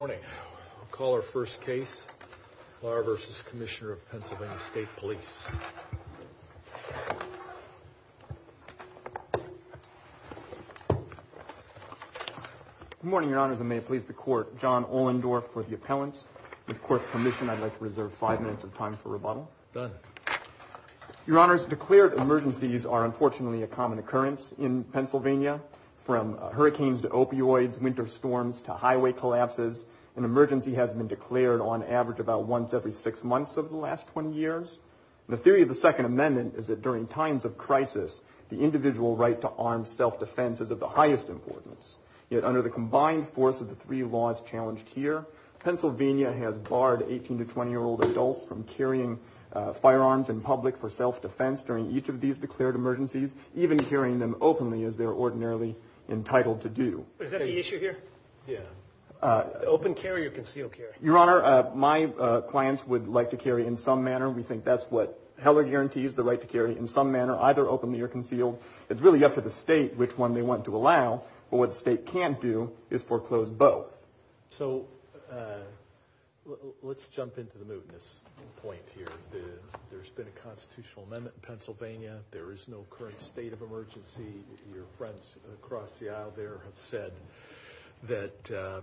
Morning. We'll call our first case, Lara v. Commissioner of Pennsylvania State Police. Good morning, Your Honors, and may it please the Court, John Ohlendorf for the appellants. With Court's permission, I'd like to reserve five minutes of time for rebuttal. Done. Your Honors, declared emergencies are unfortunately a common occurrence in Pennsylvania, from hurricanes to opioids, winter storms to highway collapses, an emergency has been declared on average about once every six months over the last 20 years. The theory of the Second Amendment is that during times of crisis, the individual right to armed self-defense is of the highest importance. Yet under the combined force of the three laws challenged here, Pennsylvania has barred 18 to 20-year-old adults from carrying firearms in public for self-defense during each of these declared emergencies, even carrying them openly as they're ordinarily entitled to do. Is that the issue here? Yeah. Open carry or concealed carry? Your Honor, my clients would like to carry in some manner. We think that's what Heller guarantees, the right to carry in some manner, either openly or concealed. It's really up to the state which one they want to allow, but what the state can't do is foreclose both. So let's jump into the mootness point here. There's been a constitutional amendment in Pennsylvania. There is no current state of emergency. Your friends across the aisle there have said that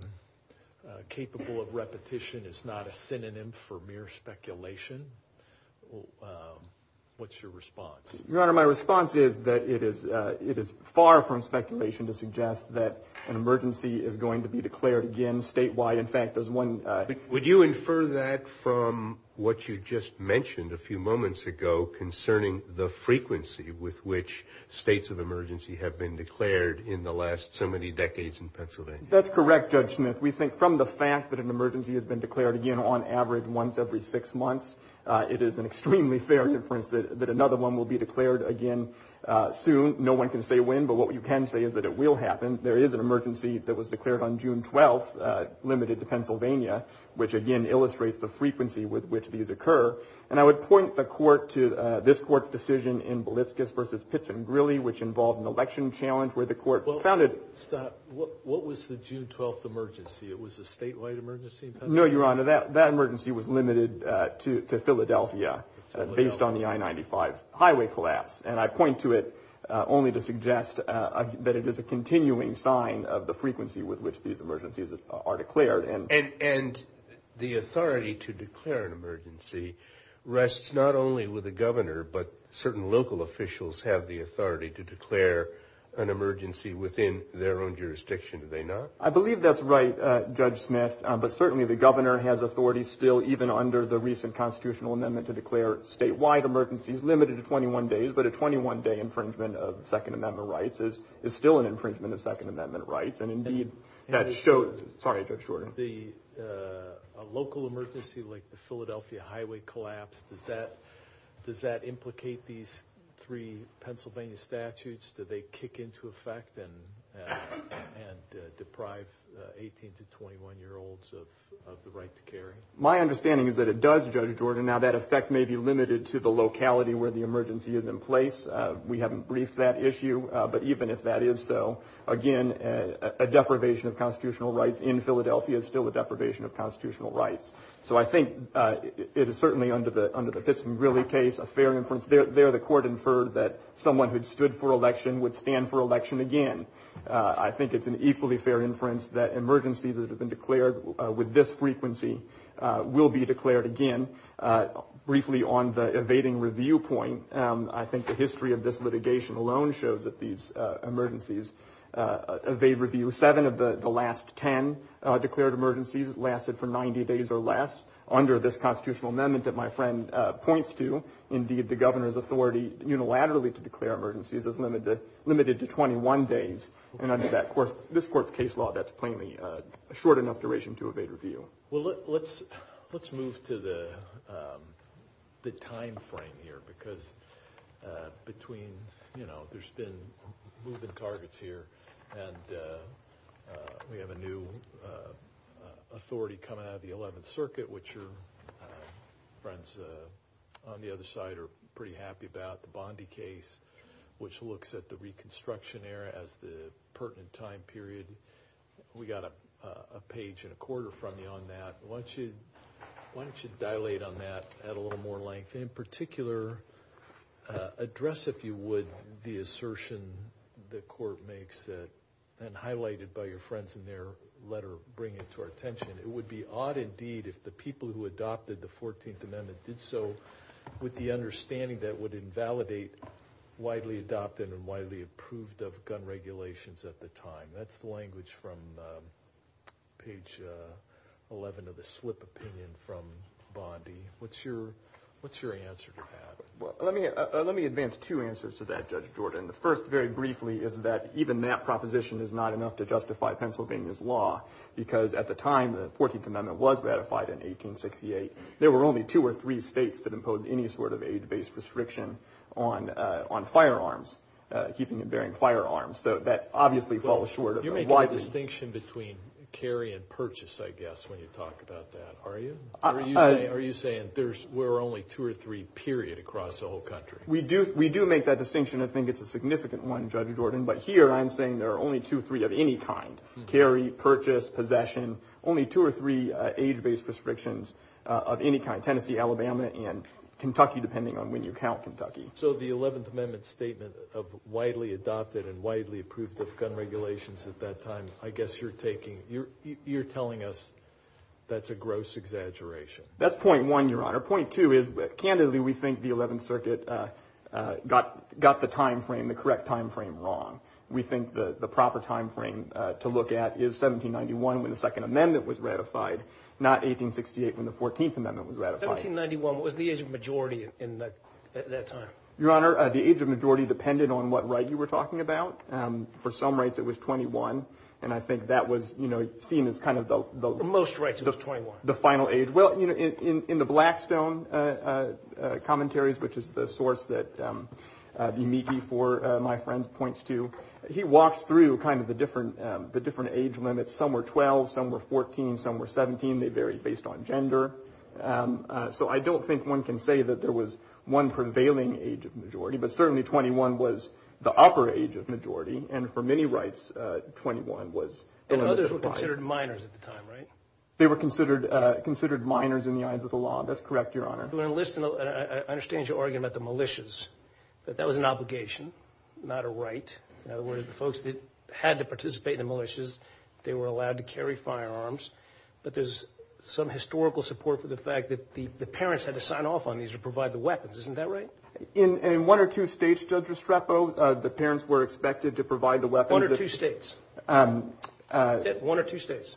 capable of repetition is not a synonym for mere speculation. What's your response? Your Honor, my response is that it is far from speculation to suggest that an emergency is going to be declared again statewide. In fact, there's one— Would you infer that from what you just mentioned a few moments ago concerning the frequency with which states of emergency have been declared in the last so many decades in Pennsylvania? That's correct, Judge Smith. We think from the fact that an emergency has been declared again on average once every six months, it is an extremely fair inference that another one will be declared again soon. No one can say when, but what you can say is that it will happen. There is an emergency that was declared on June 12th, limited to Pennsylvania, which again illustrates the frequency with which these occur. And I would point the Court to this Court's decision in Balitskis v. Pitts and Grilley, which involved an election challenge where the Court founded— Stop. What was the June 12th emergency? It was a statewide emergency in Pennsylvania? No, Your Honor, that emergency was limited to Philadelphia based on the I-95 highway collapse. And I point to it only to suggest that it is a continuing sign of the frequency with which these emergencies are declared. And the authority to declare an emergency rests not only with the governor, but certain local officials have the authority to declare an emergency within their own jurisdiction, do they not? I believe that's right, Judge Smith, but certainly the governor has authority still even under the recent constitutional amendment to declare statewide emergencies limited to 21 days, but a 21-day infringement of Second Amendment rights is still an infringement of Second Amendment rights, and indeed that shows— Sorry, Judge Jordan. A local emergency like the Philadelphia highway collapse, does that implicate these three Pennsylvania statutes? Do they kick into effect and deprive 18- to 21-year-olds of the right to carry? My understanding is that it does, Judge Jordan. Now, that effect may be limited to the locality where the emergency is in place. We haven't briefed that issue, but even if that is so, again, a deprivation of constitutional rights in Philadelphia is still a deprivation of constitutional rights. So I think it is certainly under the Pits and Grilly case a fair inference. There the court inferred that someone who had stood for election would stand for election again. I think it's an equally fair inference that emergencies that have been declared with this frequency will be declared again. Briefly on the evading review point, I think the history of this litigation alone shows that these emergencies evade review. Seven of the last ten declared emergencies lasted for 90 days or less. Under this constitutional amendment that my friend points to, indeed, the governor's authority unilaterally to declare emergencies is limited to 21 days. And under this court's case law, that's plainly a short enough duration to evade review. Well, let's move to the timeframe here, because between, you know, there's been moving targets here, and we have a new authority coming out of the 11th Circuit, which your friends on the other side are pretty happy about, the Bondi case, which looks at the reconstruction era as the pertinent time period. We got a page and a quarter from you on that. Why don't you dilate on that at a little more length, and, in particular, address, if you would, the assertion the court makes, and highlighted by your friends in their letter bringing it to our attention. It would be odd, indeed, if the people who adopted the 14th Amendment did so with the understanding that it would invalidate widely adopted and widely approved gun regulations at the time. That's the language from page 11 of the slip opinion from Bondi. What's your answer to that? Well, let me advance two answers to that, Judge Jordan. The first, very briefly, is that even that proposition is not enough to justify Pennsylvania's law, because at the time the 14th Amendment was ratified in 1868, there were only two or three states that imposed any sort of age-based restriction on firearms, keeping and bearing firearms. So that obviously falls short of a widely- You make a distinction between carry and purchase, I guess, when you talk about that, are you? Are you saying there were only two or three, period, across the whole country? We do make that distinction. I think it's a significant one, Judge Jordan. But here I'm saying there are only two or three of any kind, carry, purchase, possession, only two or three age-based restrictions of any kind, Tennessee, Alabama, and Kentucky, depending on when you count Kentucky. So the 11th Amendment statement of widely adopted and widely approved gun regulations at that time, I guess you're telling us that's a gross exaggeration. That's point one, Your Honor. Point two is, candidly, we think the 11th Circuit got the correct time frame wrong. We think the proper time frame to look at is 1791 when the Second Amendment was ratified, not 1868 when the 14th Amendment was ratified. 1791 was the age of majority at that time. Your Honor, the age of majority depended on what right you were talking about. For some rights it was 21, and I think that was, you know, seen as kind of the- Most rights were 21. The final age. Well, you know, in the Blackstone commentaries, which is the source that the amici for my friends points to, he walks through kind of the different age limits. Some were 12, some were 14, some were 17. They vary based on gender. So I don't think one can say that there was one prevailing age of majority, but certainly 21 was the upper age of majority, and for many rights, 21 was the limit. And others were considered minors at the time, right? They were considered minors in the eyes of the law. That's correct, Your Honor. I understand you're arguing about the militias, but that was an obligation, not a right. In other words, the folks that had to participate in the militias, they were allowed to carry firearms, but there's some historical support for the fact that the parents had to sign off on these or provide the weapons. Isn't that right? In one or two states, Judge Estrepo, the parents were expected to provide the weapons. One or two states. One or two states.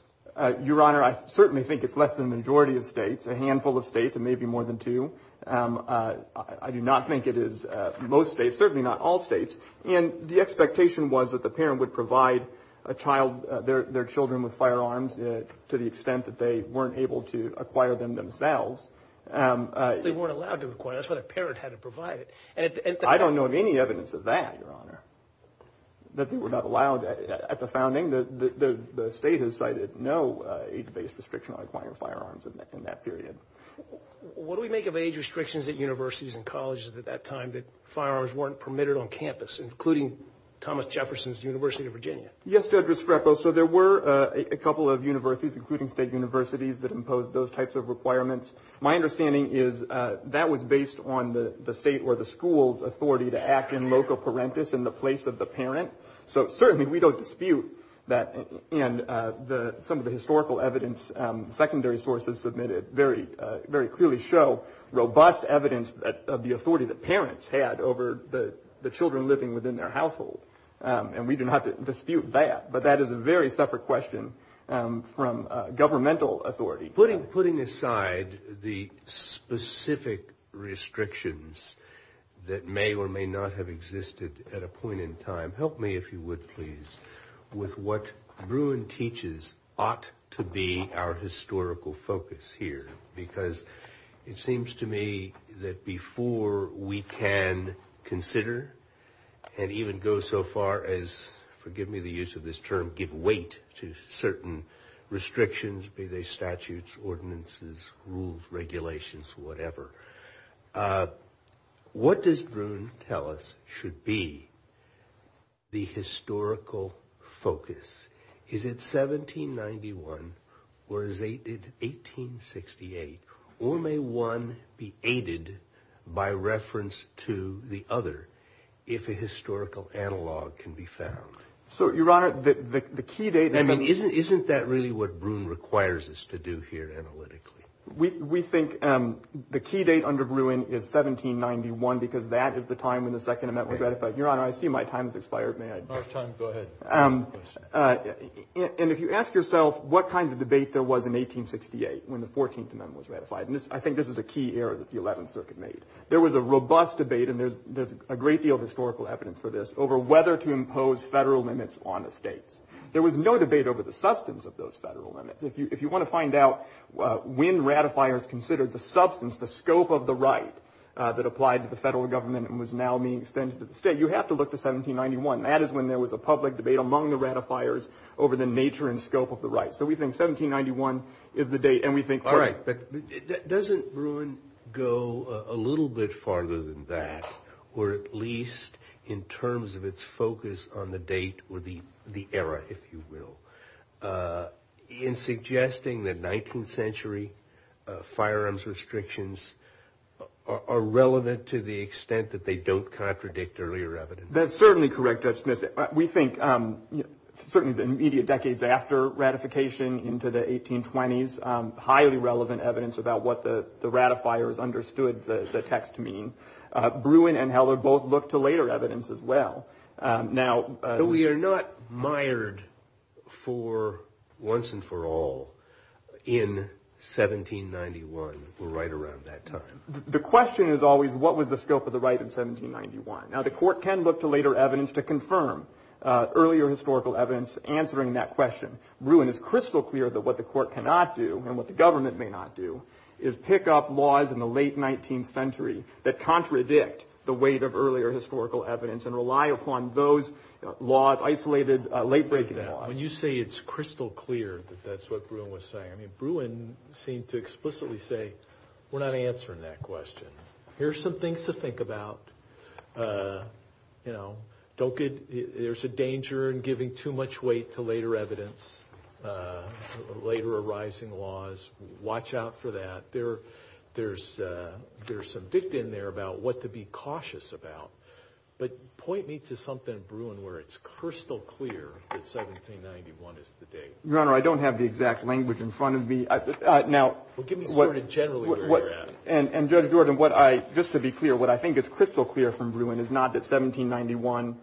Your Honor, I certainly think it's less than the majority of states, a handful of states, and maybe more than two. I do not think it is most states, certainly not all states. And the expectation was that the parent would provide their children with firearms to the extent that they weren't able to acquire them themselves. They weren't allowed to acquire them. That's why the parent had to provide it. I don't know of any evidence of that, Your Honor, that they were not allowed. At the founding, the state has cited no age-based restriction on acquiring firearms in that period. What do we make of age restrictions at universities and colleges at that time that firearms weren't permitted on campus, including Thomas Jefferson's University of Virginia? Yes, Judge Estrepo, so there were a couple of universities, including state universities, that imposed those types of requirements. My understanding is that was based on the state or the school's authority to act in loco parentis, in the place of the parent. So certainly we don't dispute that. And some of the historical evidence, secondary sources submitted, very clearly show robust evidence of the authority that parents had over the children living within their household. And we do not dispute that. But that is a very separate question from governmental authority. Putting aside the specific restrictions that may or may not have existed at a point in time, help me, if you would, please, with what Bruin teaches ought to be our historical focus here. Because it seems to me that before we can consider and even go so far as, forgive me the use of this term, give weight to certain restrictions, be they statutes, ordinances, rules, regulations, whatever, what does Bruin tell us should be the historical focus? Is it 1791 or is it 1868? Or may one be aided by reference to the other if a historical analog can be found? So, Your Honor, the key date. I mean, isn't that really what Bruin requires us to do here analytically? We think the key date under Bruin is 1791 because that is the time when the Second Amendment was ratified. Your Honor, I see my time has expired. May I? Go ahead. And if you ask yourself what kind of debate there was in 1868 when the 14th Amendment was ratified, I think this is a key error that the 11th Circuit made. There was a robust debate, and there's a great deal of historical evidence for this, over whether to impose federal limits on the states. There was no debate over the substance of those federal limits. If you want to find out when ratifiers considered the substance, the scope of the right, that applied to the federal government and was now being extended to the state, you have to look to 1791. That is when there was a public debate among the ratifiers over the nature and scope of the right. So we think 1791 is the date, and we think… All right, but doesn't Bruin go a little bit farther than that, or at least in terms of its focus on the date or the era, if you will, in suggesting that 19th century firearms restrictions are relevant to the extent that they don't contradict earlier evidence? That's certainly correct, Judge Smith. We think certainly the immediate decades after ratification into the 1820s, highly relevant evidence about what the ratifiers understood the text to mean. Bruin and Heller both looked to later evidence as well. Now… But we are not mired for once and for all in 1791. We're right around that time. The question is always what was the scope of the right in 1791. Now, the court can look to later evidence to confirm earlier historical evidence answering that question. Bruin is crystal clear that what the court cannot do and what the government may not do is pick up laws in the late 19th century that contradict the weight of earlier historical evidence and rely upon those laws, isolated, late-breaking laws. When you say it's crystal clear that that's what Bruin was saying, Bruin seemed to explicitly say we're not answering that question. Here's some things to think about. You know, there's a danger in giving too much weight to later evidence, later arising laws. Watch out for that. There's some dicta in there about what to be cautious about. But point me to something in Bruin where it's crystal clear that 1791 is the date. Your Honor, I don't have the exact language in front of me. Now… Well, give me sort of generally where you're at. And, Judge Jordan, just to be clear, what I think is crystal clear from Bruin is not that 1791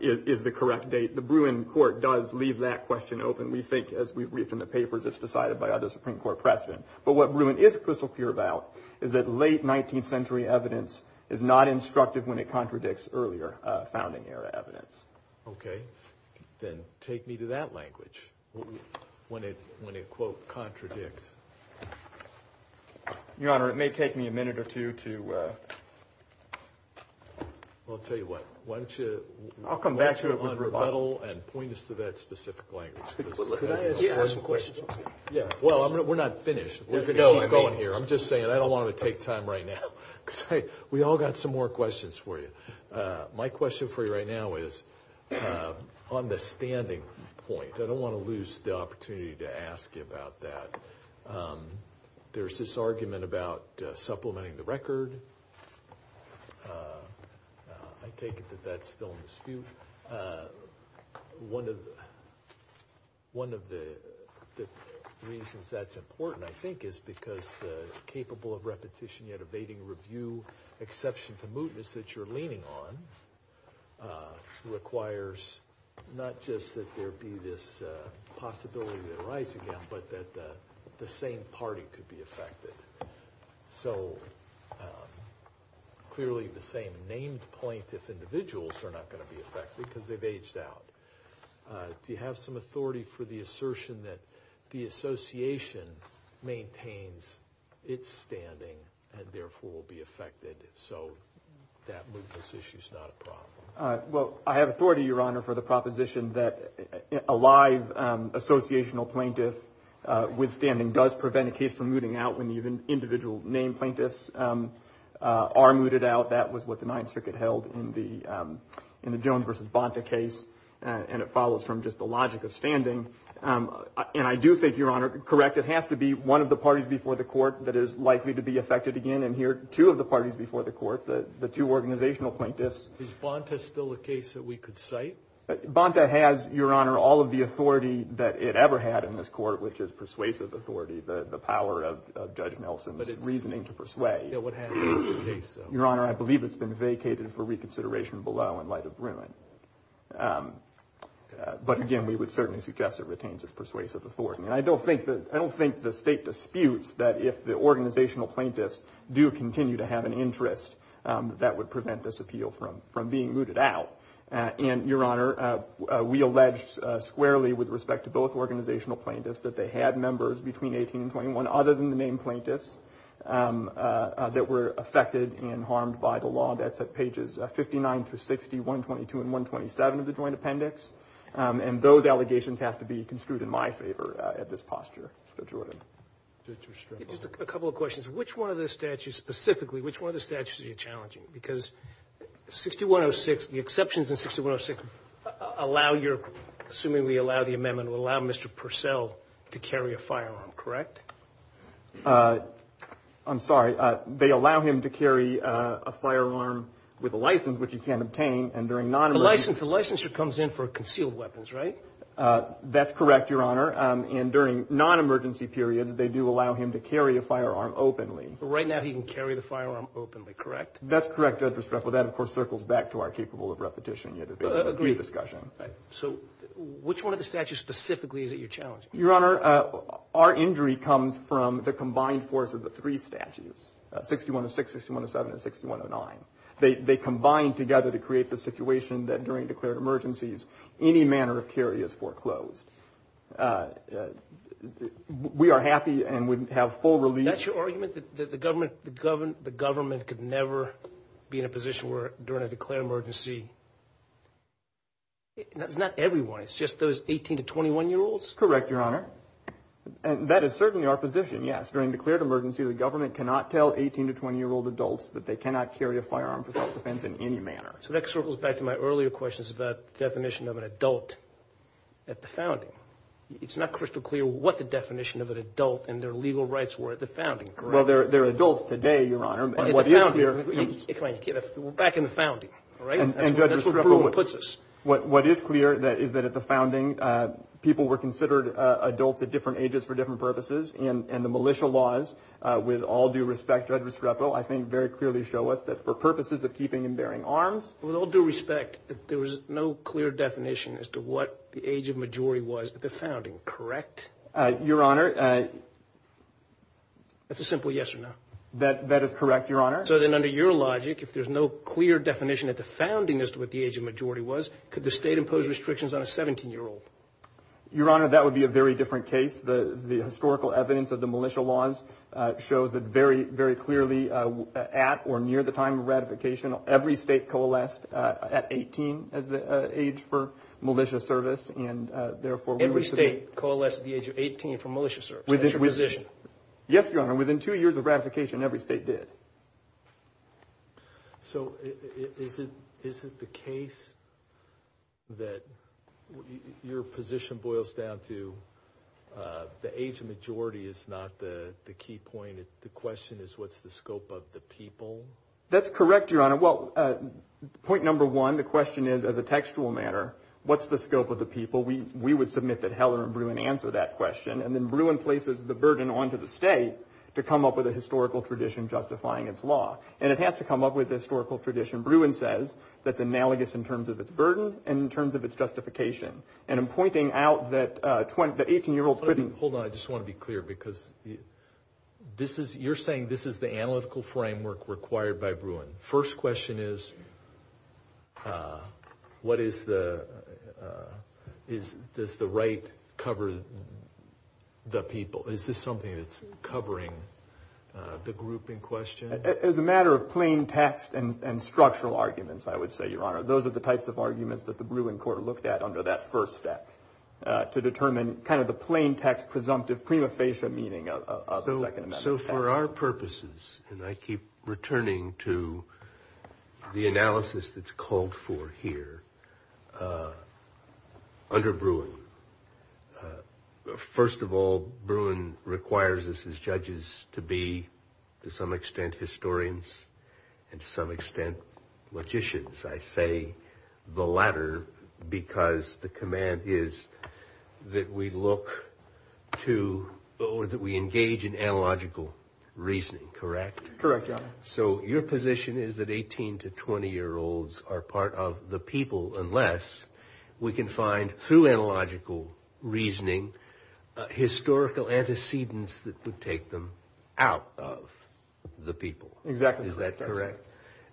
is the correct date. The Bruin court does leave that question open. We think, as we've read from the papers, it's decided by other Supreme Court precedent. But what Bruin is crystal clear about is that late 19th century evidence is not instructive when it contradicts earlier founding-era evidence. Okay. Then take me to that language, when it, quote, contradicts. Your Honor, it may take me a minute or two to… Well, I'll tell you what. Why don't you… I'll come back to it with rebuttal. I'll come back to it with rebuttal and point us to that specific language. Could I ask a question? Yeah. Well, we're not finished. We're going to keep going here. I'm just saying, I don't want to take time right now. We've all got some more questions for you. My question for you right now is on the standing point. I don't want to lose the opportunity to ask you about that. There's this argument about supplementing the record. I take it that that's still in dispute. One of the reasons that's important, I think, is because capable of repetition yet evading review, exception to mootness that you're leaning on, requires not just that there be this possibility to arise again, but that the same party could be affected. So clearly the same named plaintiff individuals are not going to be affected because they've aged out. Do you have some authority for the assertion that the association maintains its standing and therefore will be affected so that mootness issue is not a problem? Well, I have authority, Your Honor, for the proposition that a live associational plaintiff withstanding does prevent a case from mooting out when the individual named plaintiffs are mooted out. That was what the Ninth Circuit held in the Jones v. Bonta case, and it follows from just the logic of standing. And I do think, Your Honor, correct, it has to be one of the parties before the court that is likely to be affected again, and here two of the parties before the court, the two organizational plaintiffs. Is Bonta still a case that we could cite? Bonta has, Your Honor, all of the authority that it ever had in this court, which is persuasive authority, the power of Judge Nelson's reasoning to persuade. What happened in the case? Your Honor, I believe it's been vacated for reconsideration below in light of Bruin. But, again, we would certainly suggest it retains its persuasive authority. And I don't think the state disputes that if the organizational plaintiffs do continue to have an interest, that would prevent this appeal from being mooted out. And, Your Honor, we alleged squarely with respect to both organizational plaintiffs that they had members between 18 and 21 other than the named plaintiffs that were affected and harmed by the law. That's at pages 59 through 60, 122 and 127 of the Joint Appendix. And those allegations have to be construed in my favor at this posture, Mr. Jordan. Just a couple of questions. Which one of the statutes specifically, which one of the statutes are you challenging? Because 6106, the exceptions in 6106 allow your, assuming we allow the amendment, would allow Mr. Purcell to carry a firearm, correct? I'm sorry. They allow him to carry a firearm with a license, which he can't obtain. The licensure comes in for concealed weapons, right? That's correct, Your Honor. And during non-emergency periods, they do allow him to carry a firearm openly. Right now he can carry the firearm openly, correct? That's correct, Judge Restrepo. That, of course, circles back to our capable of repetition. So which one of the statutes specifically is it you're challenging? Your Honor, our injury comes from the combined force of the three statutes, 6106, 6107, and 6109. They combine together to create the situation that during declared emergencies, any manner of carry is foreclosed. We are happy and would have full relief. That's your argument, that the government could never be in a position where during a declared emergency? It's not everyone. It's just those 18 to 21-year-olds? Correct, Your Honor. That is certainly our position, yes. the government cannot tell 18 to 20-year-old adults that they cannot carry a firearm for self-defense in any manner. So that circles back to my earlier questions about the definition of an adult at the founding. It's not crystal clear what the definition of an adult and their legal rights were at the founding, correct? Well, they're adults today, Your Honor. We're back in the founding, all right? And, Judge Restrepo, what is clear is that at the founding, people were considered adults at different ages for different purposes, and the militia laws, with all due respect, Judge Restrepo, I think very clearly show us that for purposes of keeping and bearing arms. With all due respect, there was no clear definition as to what the age of majority was at the founding, correct? Your Honor, That's a simple yes or no. That is correct, Your Honor. So then under your logic, if there's no clear definition at the founding as to what the age of majority was, could the state impose restrictions on a 17-year-old? Your Honor, that would be a very different case. The historical evidence of the militia laws shows that very, very clearly at or near the time of ratification, every state coalesced at 18 as the age for militia service, and therefore we would say— Every state coalesced at the age of 18 for militia service? Yes, Your Honor. Within two years of ratification, every state did. So is it the case that your position boils down to the age of majority is not the key point? The question is what's the scope of the people? That's correct, Your Honor. Well, point number one, the question is, as a textual matter, what's the scope of the people? We would submit that Heller and Bruin answer that question, and then Bruin places the burden onto the state to come up with a historical tradition justifying its law. And it has to come up with a historical tradition, Bruin says, that's analogous in terms of its burden and in terms of its justification. And I'm pointing out that 18-year-olds couldn't— Hold on, I just want to be clear, because you're saying this is the analytical framework required by Bruin. First question is, what is the—does the right cover the people? Is this something that's covering the group in question? As a matter of plain text and structural arguments, I would say, Your Honor, those are the types of arguments that the Bruin court looked at under that first step to determine kind of the plain text presumptive prima facie meaning of the Second Amendment. So for our purposes, and I keep returning to the analysis that's called for here, under Bruin, first of all, Bruin requires us as judges to be, to some extent, historians, and to some extent, logicians. I say the latter because the command is that we look to or that we engage in analogical reasoning, correct? Correct, Your Honor. So your position is that 18- to 20-year-olds are part of the people unless we can find, through analogical reasoning, historical antecedents that would take them out of the people. Exactly. Is that correct?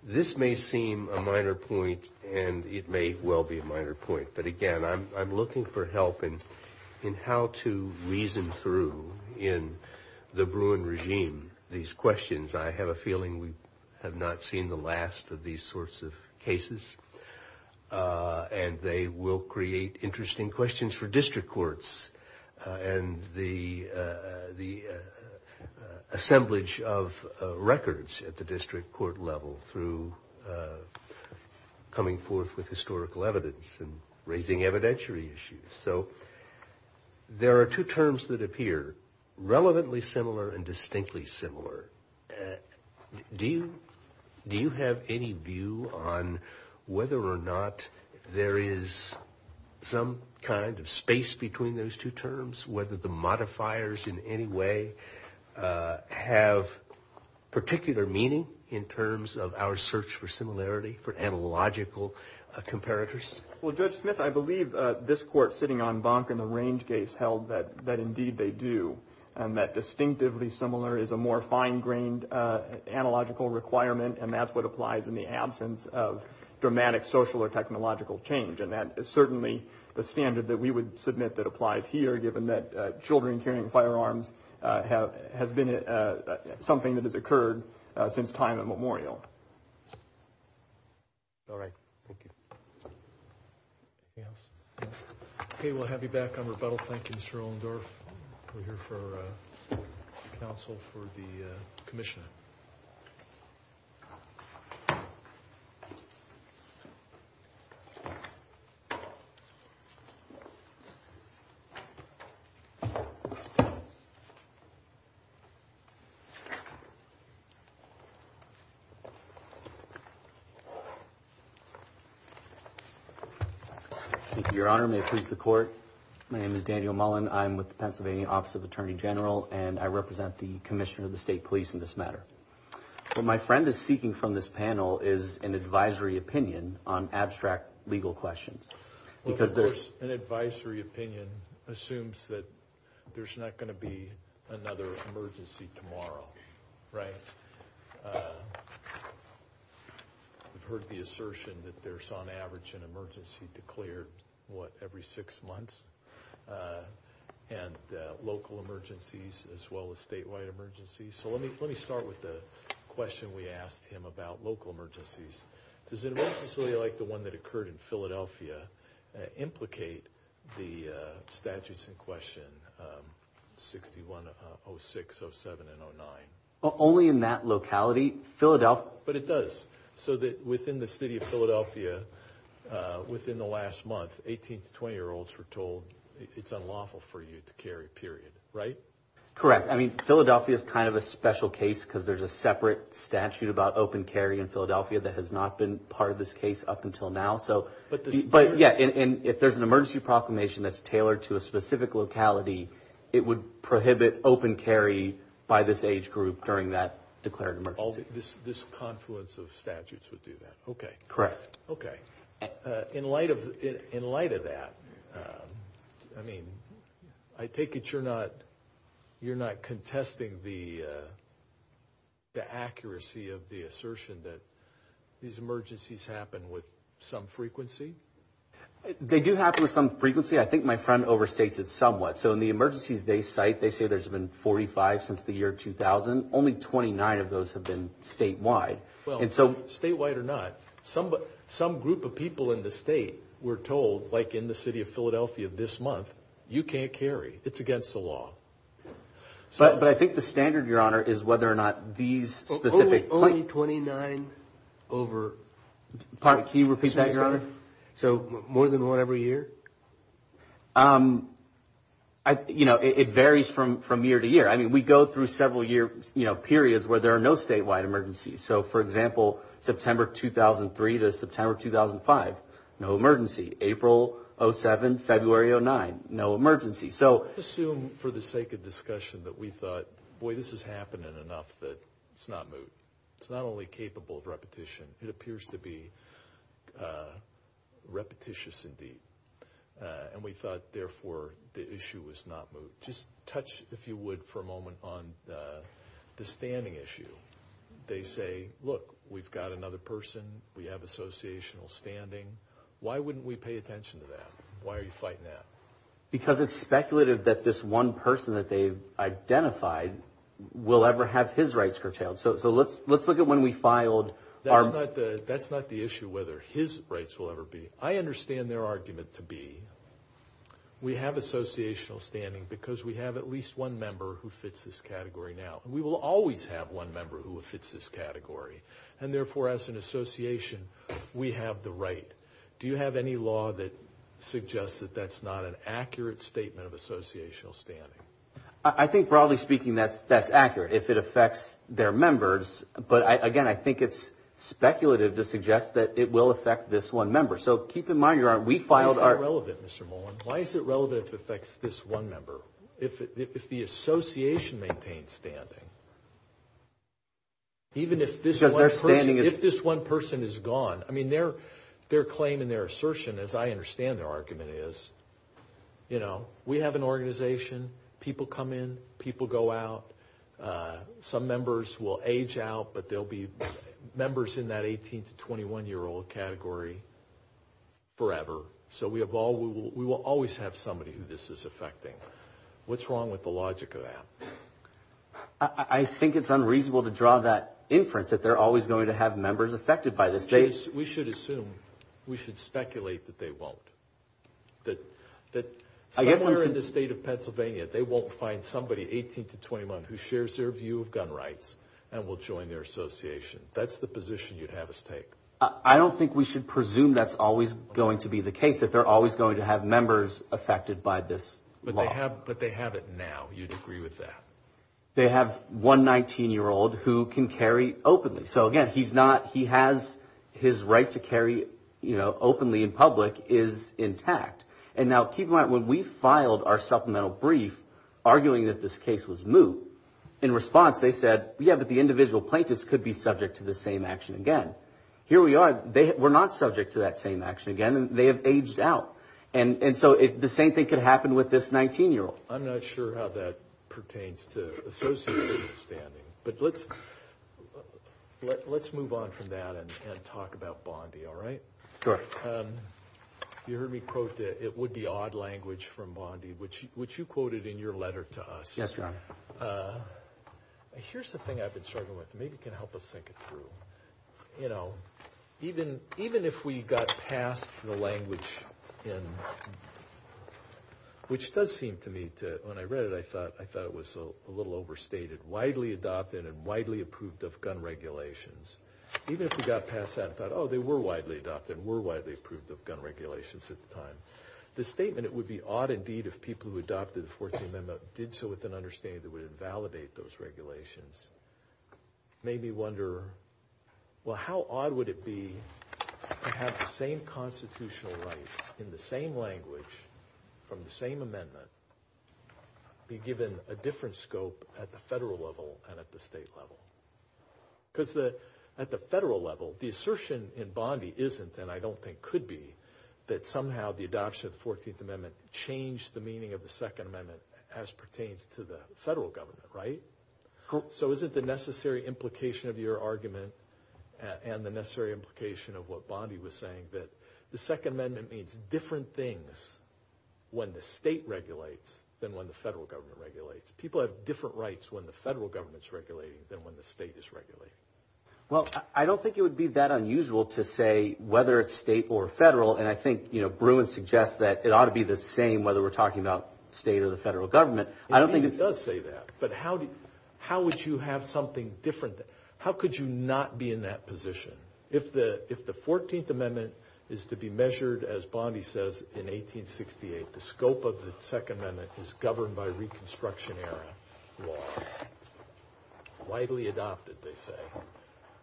This may seem a minor point, and it may well be a minor point, but again, I'm looking for help in how to reason through in the Bruin regime these questions. I have a feeling we have not seen the last of these sorts of cases, and they will create interesting questions for district courts and the assemblage of records at the district court level through coming forth with historical evidence and raising evidentiary issues. So there are two terms that appear, relevantly similar and distinctly similar. Do you have any view on whether or not there is some kind of space between those two terms, whether the modifiers in any way have particular meaning in terms of our search for similarity, for analogical comparators? Well, Judge Smith, I believe this Court sitting on Bonk and the Range case held that indeed they do and that distinctively similar is a more fine-grained analogical requirement, and that's what applies in the absence of dramatic social or technological change. And that is certainly the standard that we would submit that applies here, given that children carrying firearms has been something that has occurred since time immemorial. All right. Thank you. Anything else? No? Okay. Well, I'll have you back on rebuttal. Thank you, Mr. Ohlendorf. We're here for counsel for the commission. Thank you, Your Honor. May it please the Court. My name is Daniel Mullen. I'm with the Pennsylvania Office of the Attorney General, and I represent the Commissioner of the State Police in this matter. What my friend is seeking from this panel is an advisory opinion on abstract legal questions. Of course, an advisory opinion assumes that there's not going to be another emergency tomorrow, right? We've heard the assertion that there's, on average, an emergency declared, what, every six months, and local emergencies as well as statewide emergencies. So let me start with the question we asked him about local emergencies. Does an emergency like the one that occurred in Philadelphia implicate the statutes in question 6106, 07, and 09? Only in that locality. But it does. So that within the city of Philadelphia, within the last month, 18- to 20-year-olds were told, it's unlawful for you to carry, period, right? Correct. I mean, Philadelphia is kind of a special case because there's a separate statute about open carry in Philadelphia that has not been part of this case up until now. And if there's an emergency proclamation that's tailored to a specific locality, it would prohibit open carry by this age group during that declared emergency. This confluence of statutes would do that. Okay. Correct. Okay. In light of that, I mean, I take it you're not contesting the accuracy of the assertion that these emergencies happen with some frequency? They do happen with some frequency. I think my friend overstates it somewhat. So in the emergencies they cite, they say there's been 45 since the year 2000. Only 29 of those have been statewide. Statewide or not, some group of people in the state were told, like in the city of Philadelphia this month, you can't carry. It's against the law. But I think the standard, Your Honor, is whether or not these specific – Only 29 over – Pardon? Can you repeat that, Your Honor? So more than one every year? You know, it varies from year to year. I mean, we go through several year periods where there are no statewide emergencies. So, for example, September 2003 to September 2005, no emergency. April 2007, February 2009, no emergency. So – I assume for the sake of discussion that we thought, boy, this is happening enough that it's not moot. It's not only capable of repetition. It appears to be repetitious indeed. And we thought, therefore, the issue was not moot. Just touch, if you would, for a moment on the standing issue. They say, look, we've got another person. We have associational standing. Why wouldn't we pay attention to that? Why are you fighting that? Because it's speculative that this one person that they've identified will ever have his rights curtailed. So let's look at when we filed our – That's not the issue whether his rights will ever be. I understand their argument to be we have associational standing because we have at least one member who fits this category now. We will always have one member who fits this category. And, therefore, as an association, we have the right. Do you have any law that suggests that that's not an accurate statement of associational standing? I think, broadly speaking, that's accurate. If it affects their members. But, again, I think it's speculative to suggest that it will affect this one member. So keep in mind, we filed our – Why is that relevant, Mr. Mullen? Why is it relevant if it affects this one member? If the association maintains standing, even if this one person is gone. I mean, their claim and their assertion, as I understand their argument, is, you know, we have an organization. People come in. People go out. Some members will age out, but they'll be members in that 18 to 21-year-old category forever. So we will always have somebody who this is affecting. What's wrong with the logic of that? I think it's unreasonable to draw that inference that they're always going to have members affected by this. We should assume. We should speculate that they won't. That somewhere in the state of Pennsylvania, they won't find somebody 18 to 21 who shares their view of gun rights and will join their association. That's the position you'd have us take. I don't think we should presume that's always going to be the case, that they're always going to have members affected by this law. But they have it now. You'd agree with that? They have one 19-year-old who can carry openly. So, again, he has his right to carry openly in public is intact. And now keep in mind, when we filed our supplemental brief arguing that this case was moot, in response they said, yeah, but the individual plaintiffs could be subject to the same action again. Here we are. We're not subject to that same action again. They have aged out. And so the same thing could happen with this 19-year-old. I'm not sure how that pertains to associative understanding. But let's move on from that and talk about Bondi, all right? Sure. You heard me quote that it would be odd language from Bondi, which you quoted in your letter to us. Yes, Rob. Here's the thing I've been struggling with. Maybe you can help us think it through. You know, even if we got past the language in, which does seem to me to, when I read it, I thought it was a little overstated. Widely adopted and widely approved of gun regulations. Even if we got past that and thought, oh, they were widely adopted and were widely approved of gun regulations at the time. The statement, it would be odd indeed if people who adopted the 14th Amendment did so with an understanding that would invalidate those regulations, made me wonder, well, how odd would it be to have the same constitutional right in the same language from the same amendment be given a different scope at the federal level and at the state level? Because at the federal level, the assertion in Bondi isn't, and I don't think could be, that somehow the adoption of the 14th Amendment changed the meaning of the Second Amendment as pertains to the federal government, right? So isn't the necessary implication of your argument and the necessary implication of what Bondi was saying that the Second Amendment means different things when the state regulates than when the federal government regulates? People have different rights when the federal government's regulating than when the state is regulating. Well, I don't think it would be that unusual to say whether it's state or federal, and I think, you know, Bruin suggests that it ought to be the same whether we're talking about state or the federal government. I don't think it's... He does say that, but how would you have something different? How could you not be in that position? If the 14th Amendment is to be measured, as Bondi says, in 1868, the scope of the Second Amendment is governed by Reconstruction-era laws, widely adopted, they say,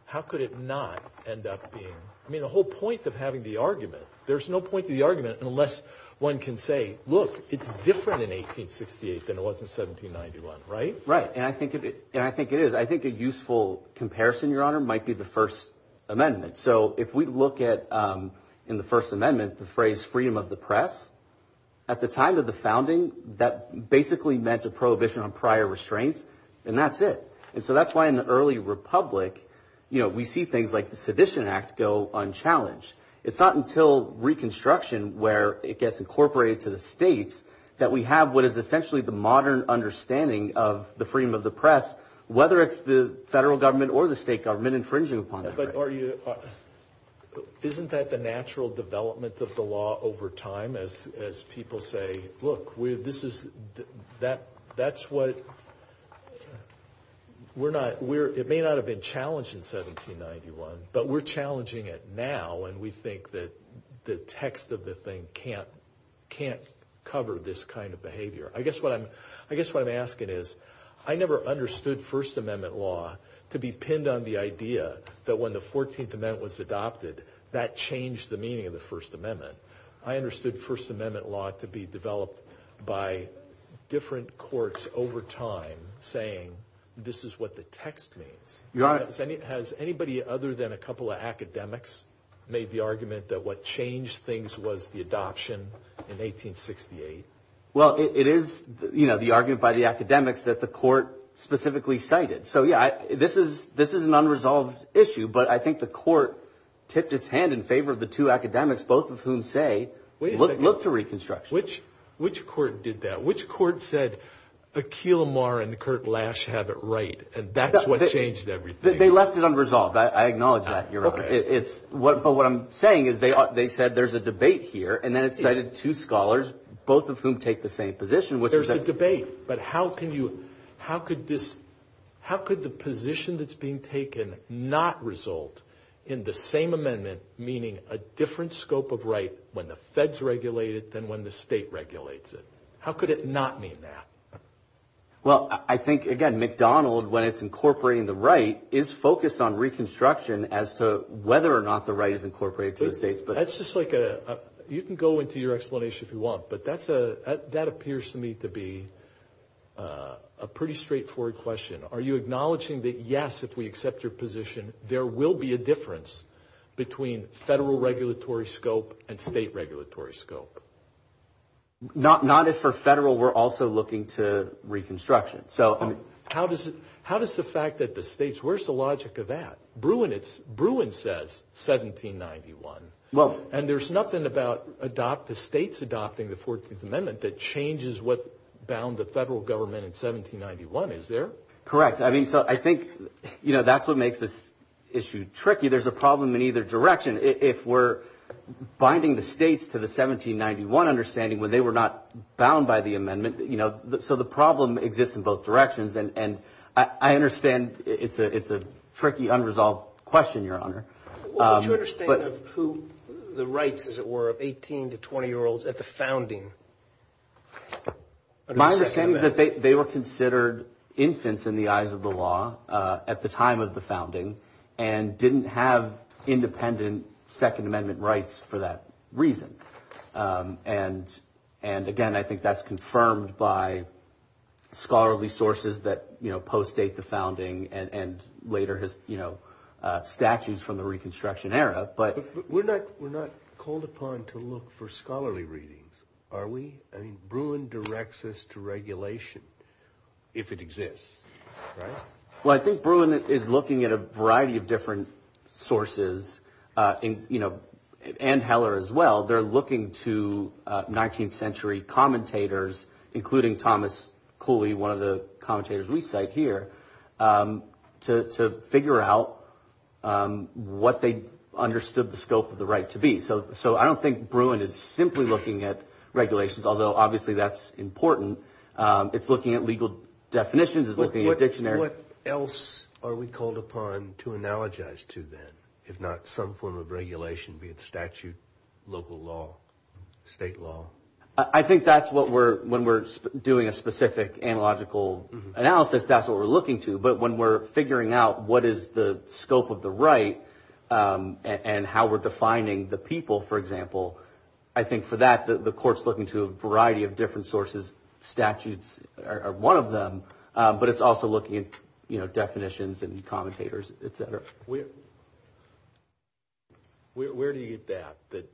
how could it not end up being... I mean, the whole point of having the argument, there's no point to the argument unless one can say, look, it's different in 1868 than it was in 1791, right? Right, and I think it is. I think a useful comparison, Your Honor, might be the First Amendment. So if we look at, in the First Amendment, the phrase freedom of the press, at the time of the founding, that basically meant a prohibition on prior restraints, and that's it. And so that's why in the early republic, you know, we see things like the Sedition Act go unchallenged. It's not until Reconstruction where it gets incorporated to the states that we have what is essentially the modern understanding of the freedom of the press, whether it's the federal government or the state government infringing upon it. Isn't that the natural development of the law over time as people say, look, this is, that's what, we're not, it may not have been challenged in 1791, but we're challenging it now, and we think that the text of the thing can't cover this kind of behavior. I guess what I'm asking is, I never understood First Amendment law to be pinned on the idea that when the 14th Amendment was adopted, that changed the meaning of the First Amendment. I understood First Amendment law to be developed by different courts over time saying this is what the text means. Has anybody other than a couple of academics made the argument that what changed things was the adoption in 1868? Well, it is, you know, the argument by the academics that the court specifically cited. So, yeah, this is an unresolved issue, but I think the court tipped its hand in favor of the two academics, both of whom say, look to Reconstruction. Which court did that? Which court said Akhil Amar and Kirk Lash have it right, and that's what changed everything? They left it unresolved. I acknowledge that. But what I'm saying is they said there's a debate here, and then it cited two scholars, both of whom take the same position. There's a debate, but how could the position that's being taken not result in the same amendment meaning a different scope of right when the feds regulate it than when the state regulates it? How could it not mean that? Well, I think, again, McDonald, when it's incorporating the right, is focused on Reconstruction as to whether or not the right is incorporated to the states. That's just like a – you can go into your explanation if you want, but that appears to me to be a pretty straightforward question. Are you acknowledging that, yes, if we accept your position, there will be a difference between federal regulatory scope and state regulatory scope? Not if for federal we're also looking to Reconstruction. So how does the fact that the states – where's the logic of that? Bruin says 1791, and there's nothing about the states adopting the 14th Amendment that changes what bound the federal government in 1791, is there? Correct. I mean, so I think, you know, that's what makes this issue tricky. There's a problem in either direction. If we're binding the states to the 1791 understanding when they were not bound by the amendment, you know, so the problem exists in both directions. And I understand it's a tricky, unresolved question, Your Honor. What would you understand of who the rights, as it were, of 18- to 20-year-olds at the founding? My understanding is that they were considered infants in the eyes of the law at the time of the founding and didn't have independent Second Amendment rights for that reason. And again, I think that's confirmed by scholarly sources that, you know, postdate the founding and later, you know, statues from the Reconstruction era. But we're not called upon to look for scholarly readings, are we? I mean, Bruin directs us to regulation if it exists, right? Well, I think Bruin is looking at a variety of different sources, you know, and Heller as well. They're looking to 19th century commentators, including Thomas Cooley, one of the commentators we cite here, to figure out what they understood the scope of the right to be. So I don't think Bruin is simply looking at regulations, although obviously that's important. It's looking at legal definitions. It's looking at dictionaries. What else are we called upon to analogize to then, if not some form of regulation, be it statute, local law, state law? I think that's what we're, when we're doing a specific analogical analysis, that's what we're looking to. But when we're figuring out what is the scope of the right and how we're defining the people, for example, I think for that the court's looking to a variety of different sources. Statutes are one of them, but it's also looking at, you know, definitions and commentators, et cetera. Where do you get that?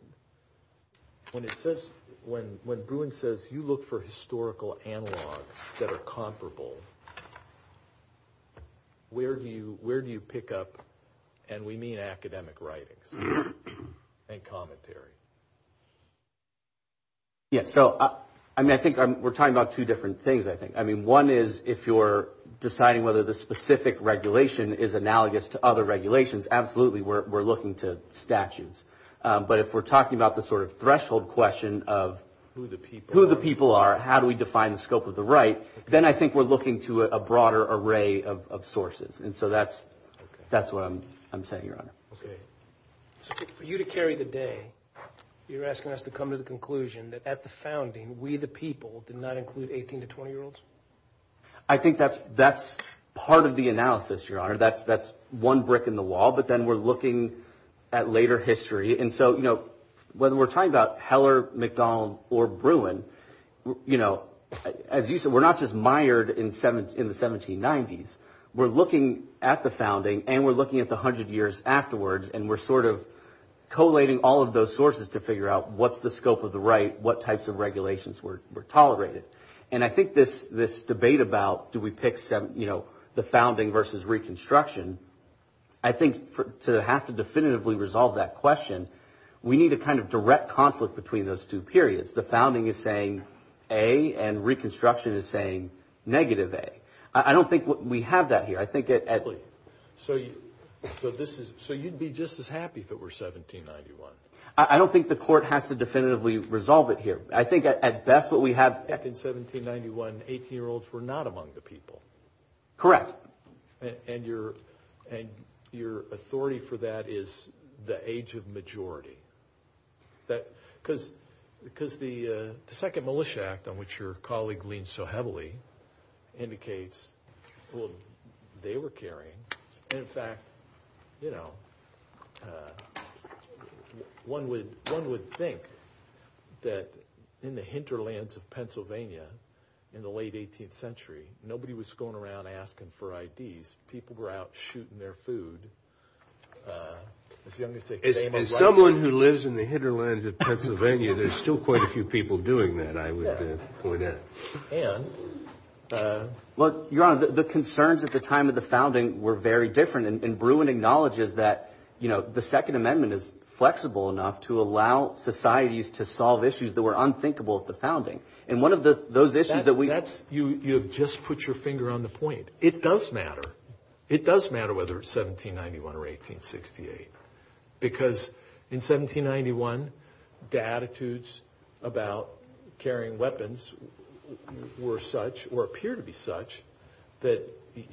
When it says, when Bruin says you look for historical analogs that are comparable, where do you pick up, and we mean academic writings and commentary? Yes. So, I mean, I think we're talking about two different things, I think. I mean, one is if you're deciding whether the specific regulation is analogous to other regulations, absolutely we're looking to statutes. But if we're talking about the sort of threshold question of who the people are, how do we define the scope of the right, then I think we're looking to a broader array of sources. And so that's what I'm saying, Your Honor. Okay. So for you to carry the day, you're asking us to come to the conclusion that at the founding, we the people did not include 18- to 20-year-olds? I think that's part of the analysis, Your Honor. That's one brick in the wall. But then we're looking at later history. And so, you know, when we're talking about Heller, McDonald, or Bruin, you know, as you said, we're not just mired in the 1790s. We're looking at the founding, and we're looking at the 100 years afterwards, and we're sort of collating all of those sources to figure out what's the scope of the right, what types of regulations were tolerated. And I think this debate about do we pick, you know, the founding versus Reconstruction, I think to have to definitively resolve that question, we need a kind of direct conflict between those two periods. The founding is saying A, and Reconstruction is saying negative A. I don't think we have that here. So you'd be just as happy if it were 1791? I don't think the court has to definitively resolve it here. I think at best what we have. Back in 1791, 18-year-olds were not among the people. Correct. And your authority for that is the age of majority. Because the second Militia Act, on which your colleague leans so heavily, indicates they were caring. And, in fact, you know, one would think that in the hinterlands of Pennsylvania in the late 18th century, nobody was going around asking for IDs. People were out shooting their food. As someone who lives in the hinterlands of Pennsylvania, there's still quite a few people doing that, I would point out. And? Look, Your Honor, the concerns at the time of the founding were very different. And Bruin acknowledges that, you know, the Second Amendment is flexible enough to allow societies to solve issues that were unthinkable at the founding. And one of those issues that we – That's – you have just put your finger on the point. It does matter. It does matter whether it's 1791 or 1868. Because in 1791, the attitudes about carrying weapons were such, or appear to be such, that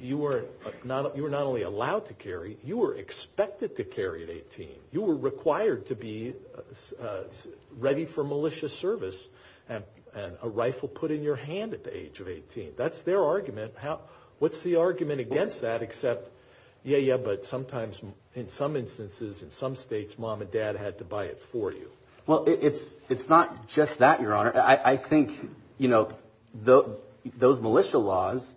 you were not only allowed to carry, you were expected to carry at 18. You were required to be ready for militia service and a rifle put in your hand at the age of 18. That's their argument. What's the argument against that except, yeah, yeah, but sometimes in some instances in some states, mom and dad had to buy it for you? Well, it's not just that, Your Honor. I think, you know, those militia laws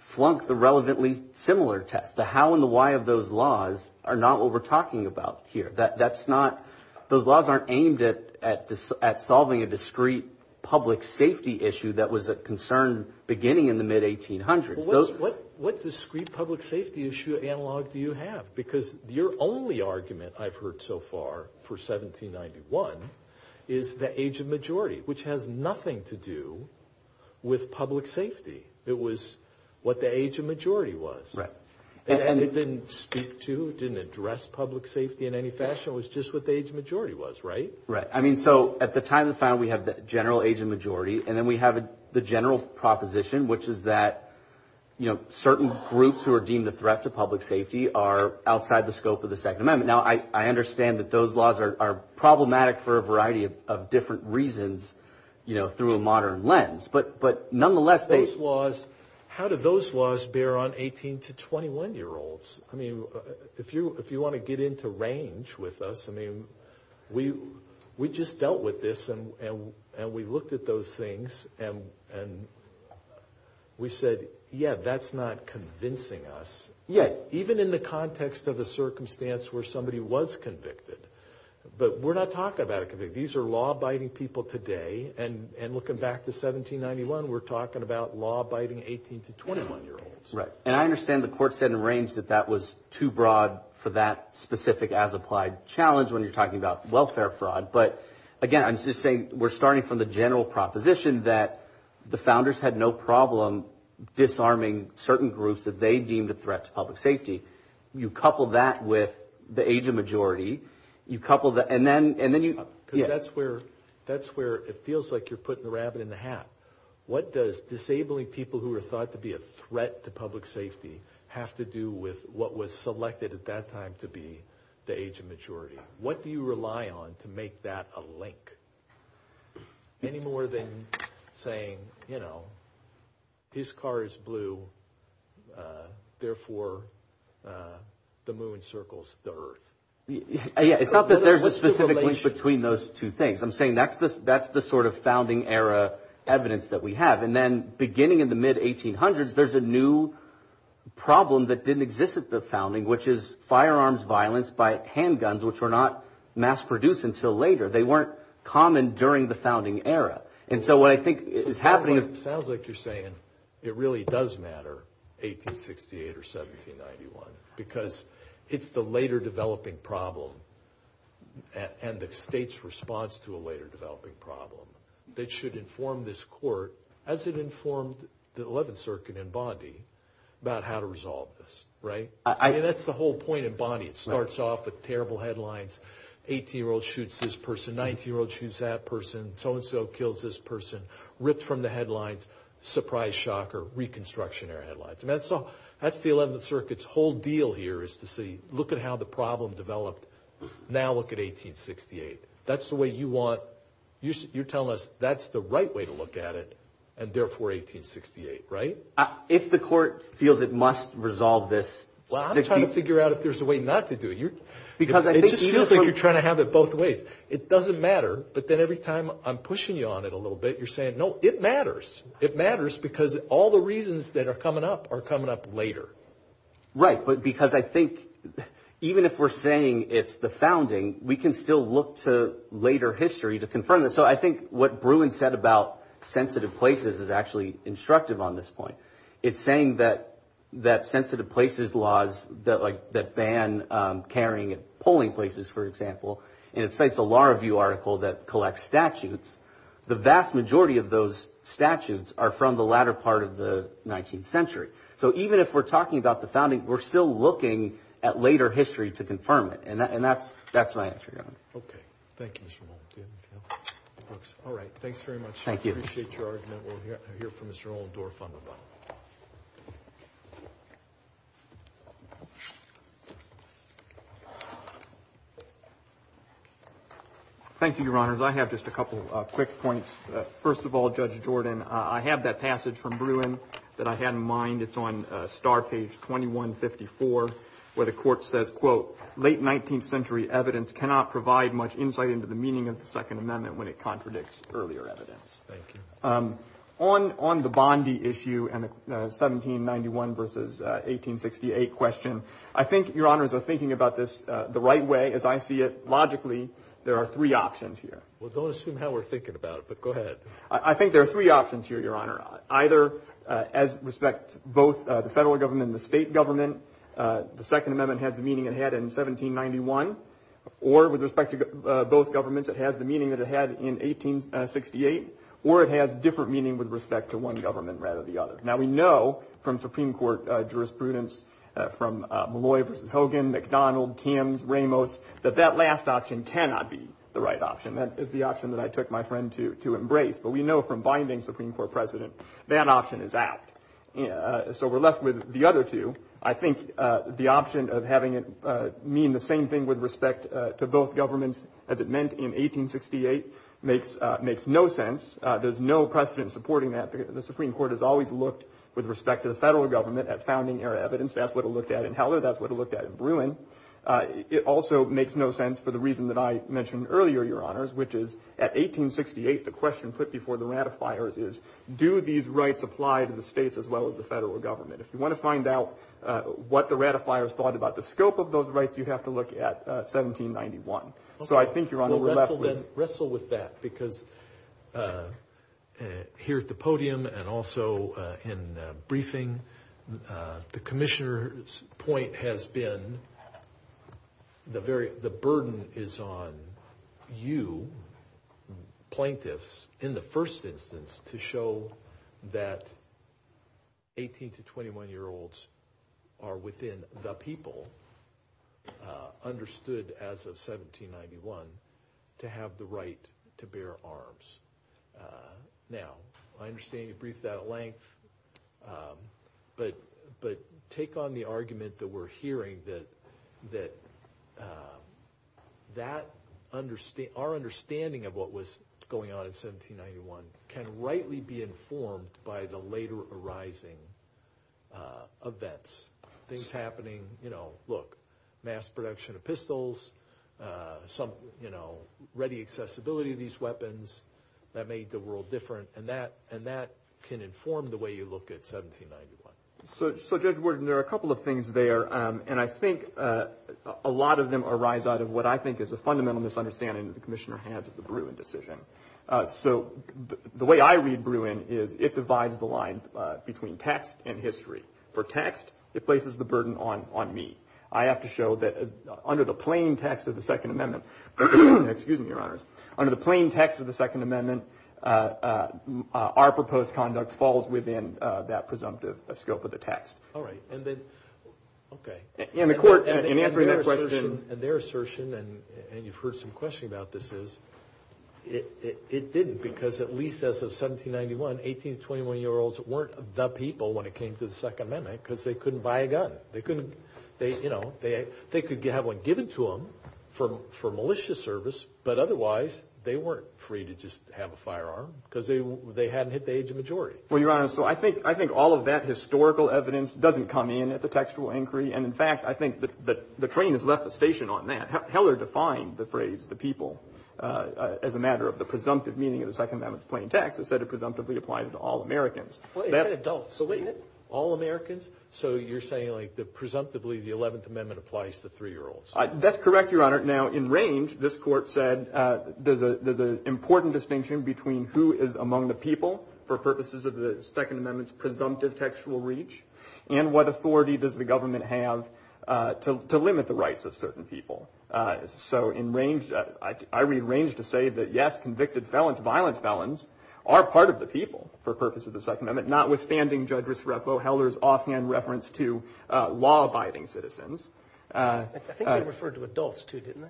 flunk the relevantly similar test. The how and the why of those laws are not what we're talking about here. That's not – those laws aren't aimed at solving a discrete public safety issue that was a concern beginning in the mid-1800s. What discrete public safety issue analog do you have? Because your only argument I've heard so far for 1791 is the age of majority, which has nothing to do with public safety. It was what the age of majority was. Right. And it didn't speak to, it didn't address public safety in any fashion. It was just what the age of majority was, right? Right. I mean, so at the time of the file, we have the general age of majority, and then we have the general proposition, which is that, you know, certain groups who are deemed a threat to public safety are outside the scope of the Second Amendment. Now, I understand that those laws are problematic for a variety of different reasons, you know, through a modern lens. But nonetheless, they – Those laws, how do those laws bear on 18- to 21-year-olds? I mean, if you want to get into range with us, I mean, we just dealt with this, and we looked at those things, and we said, yeah, that's not convincing us. Yeah, even in the context of a circumstance where somebody was convicted. But we're not talking about a convict. These are law-abiding people today, and looking back to 1791, we're talking about law-abiding 18- to 21-year-olds. Right, and I understand the court said in range that that was too broad for that specific as-applied challenge when you're talking about welfare fraud. But again, I'm just saying we're starting from the general proposition that the founders had no problem disarming certain groups that they deemed a threat to public safety. You couple that with the age of majority. You couple the – and then you – Because that's where it feels like you're putting the rabbit in the hat. What does disabling people who are thought to be a threat to public safety have to do with what was selected at that time to be the age of majority? What do you rely on to make that a link? Any more than saying, you know, his car is blue, therefore the moon circles the earth. Yeah, it's not that there's a specific link between those two things. I'm saying that's the sort of founding-era evidence that we have. And then beginning in the mid-1800s, there's a new problem that didn't exist at the founding, which is firearms violence by handguns, which were not mass-produced until later. They weren't common during the founding era. And so what I think is happening is – Sounds like you're saying it really does matter, 1868 or 1791, because it's the later-developing problem and the state's response to a later-developing problem that should inform this court, as it informed the Eleventh Circuit in Bondi, about how to resolve this, right? I mean, that's the whole point in Bondi. It starts off with terrible headlines, 18-year-old shoots this person, 19-year-old shoots that person, so-and-so kills this person, ripped from the headlines, surprise, shocker, reconstruction-era headlines. And that's the Eleventh Circuit's whole deal here is to say, look at how the problem developed, now look at 1868. That's the way you want – you're telling us that's the right way to look at it, and therefore 1868, right? If the court feels it must resolve this – Well, I'm trying to figure out if there's a way not to do it. Because I think – It just feels like you're trying to have it both ways. It doesn't matter, but then every time I'm pushing you on it a little bit, you're saying, no, it matters. It matters because all the reasons that are coming up are coming up later. Right, because I think even if we're saying it's the founding, we can still look to later history to confirm it. So I think what Bruin said about sensitive places is actually instructive on this point. It's saying that sensitive places laws that ban carrying and pulling places, for example, and it cites a Law Review article that collects statutes, the vast majority of those statutes are from the latter part of the 19th century. So even if we're talking about the founding, we're still looking at later history to confirm it. And that's my answer, Your Honor. Okay. Thank you, Mr. Nolan. All right. Thanks very much. I appreciate your argument. We'll hear from Mr. Nolan-Dorf on the bill. Thank you, Your Honors. I have just a couple of quick points. First of all, Judge Jordan, I have that passage from Bruin that I had in mind. It's on star page 2154 where the court says, quote, late 19th century evidence cannot provide much insight into the meaning of the Second Amendment when it contradicts earlier evidence. Thank you. On the Bondi issue and the 1791 versus 1868 question, I think Your Honors are thinking about this the right way, as I see it. Well, don't assume how we're thinking about it, but go ahead. I think there are three options here, Your Honor. Either as respect both the federal government and the state government, the Second Amendment has the meaning it had in 1791, or with respect to both governments, it has the meaning that it had in 1868, or it has different meaning with respect to one government rather than the other. Now, we know from Supreme Court jurisprudence from Malloy versus Hogan, McDonald, Kims, Ramos, that that last option cannot be the right option. That is the option that I took my friend to embrace. But we know from binding Supreme Court precedent that option is out. So we're left with the other two. I think the option of having it mean the same thing with respect to both governments as it meant in 1868 makes no sense. There's no precedent supporting that. The Supreme Court has always looked, with respect to the federal government, at founding era evidence. That's what it looked at in Heller. That's what it looked at in Bruin. It also makes no sense for the reason that I mentioned earlier, Your Honors, which is at 1868 the question put before the ratifiers is, do these rights apply to the states as well as the federal government? If you want to find out what the ratifiers thought about the scope of those rights, you have to look at 1791. So I think, Your Honor, we're left with. Because here at the podium and also in briefing, the commissioner's point has been the burden is on you, plaintiffs, in the first instance to show that 18 to 21-year-olds are within the people, understood as of 1791, to have the right to bear arms. Now, I understand you briefed that at length, but take on the argument that we're hearing that our understanding of what was going on in 1791 can rightly be informed by the later arising events, things happening, you know, look, mass production of pistols, ready accessibility of these weapons that made the world different, and that can inform the way you look at 1791. So, Judge Worden, there are a couple of things there, and I think a lot of them arise out of what I think is a fundamental misunderstanding that the commissioner has of the Bruin decision. So the way I read Bruin is it divides the line between text and history. For text, it places the burden on me. I have to show that under the plain text of the Second Amendment, excuse me, Your Honors, under the plain text of the Second Amendment, our proposed conduct falls within that presumptive scope of the text. All right, and then, okay. And the court, in answering that question. And their assertion, and you've heard some questioning about this, is it didn't because at least as of 1791, 18 to 21-year-olds weren't the people when it came to the Second Amendment because they couldn't buy a gun. They couldn't, you know, they could have one given to them for malicious service, but otherwise they weren't free to just have a firearm because they hadn't hit the age of majority. Well, Your Honor, so I think all of that historical evidence doesn't come in at the textual inquiry, and in fact I think the train has left the station on that. Heller defined the phrase the people as a matter of the presumptive meaning of the Second Amendment's plain text. It said it presumptively applies to all Americans. It said adults. All Americans? So you're saying, like, that presumptively the Eleventh Amendment applies to 3-year-olds. That's correct, Your Honor. Now, in range, this court said there's an important distinction between who is among the people for purposes of the Second Amendment's presumptive textual reach and what authority does the government have to limit the rights of certain people. So in range, I read range to say that, yes, convicted felons, violent felons, are part of the people for purposes of the Second Amendment, notwithstanding Judge Risrepo, Heller's offhand reference to law-abiding citizens. I think they referred to adults, too, didn't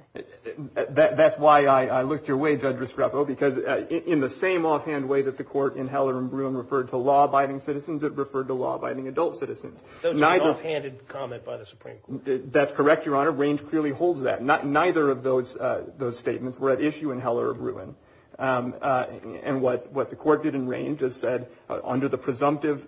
they? That's why I looked your way, Judge Risrepo, because in the same offhand way that the court in Heller and Bruin referred to law-abiding citizens, it referred to law-abiding adult citizens. Those are an offhanded comment by the Supreme Court. That's correct, Your Honor. Range clearly holds that. Neither of those statements were at issue in Heller or Bruin. And what the court did in range is said, under the presumptive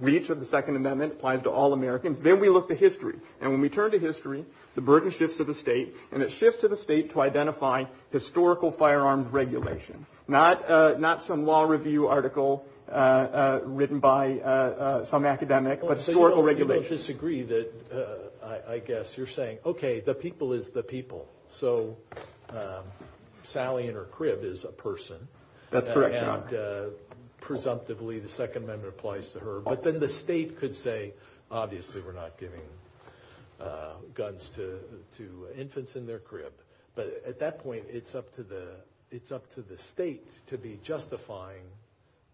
reach of the Second Amendment applies to all Americans. Then we look to history, and when we turn to history, the burden shifts to the state, and it shifts to the state to identify historical firearms regulation, not some law review article written by some academic, but historical regulations. You don't disagree that, I guess, you're saying, okay, the people is the people. So Sally in her crib is a person. That's correct, Your Honor. And presumptively the Second Amendment applies to her. But then the state could say, obviously, we're not giving guns to infants in their crib. But at that point, it's up to the state to be justifying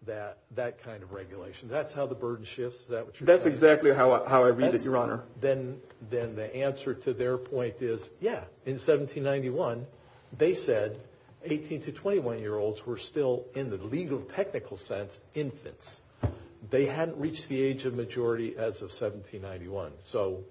that kind of regulation. That's how the burden shifts? That's exactly how I read it, Your Honor. Then the answer to their point is, yeah, in 1791, they said 18 to 21-year-olds were still, in the legal technical sense, infants. They hadn't reached the age of majority as of 1791. So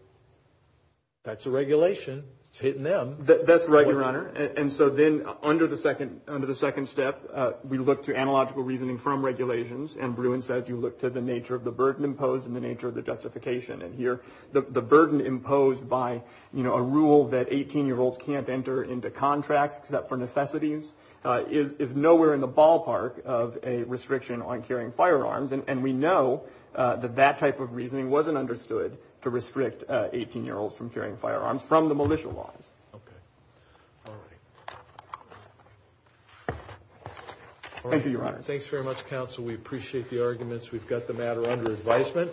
that's a regulation. It's hitting them. That's right, Your Honor. And so then under the second step, we look to analogical reasoning from regulations, and Bruin says you look to the nature of the burden imposed and the nature of the justification. And here the burden imposed by a rule that 18-year-olds can't enter into contracts except for necessities is nowhere in the ballpark of a restriction on carrying firearms. And we know that that type of reasoning wasn't understood to restrict 18-year-olds from carrying firearms from the militia laws. Okay. All right. Thank you, Your Honor. Thanks very much, counsel. We appreciate the arguments. We've got the matter under advisement.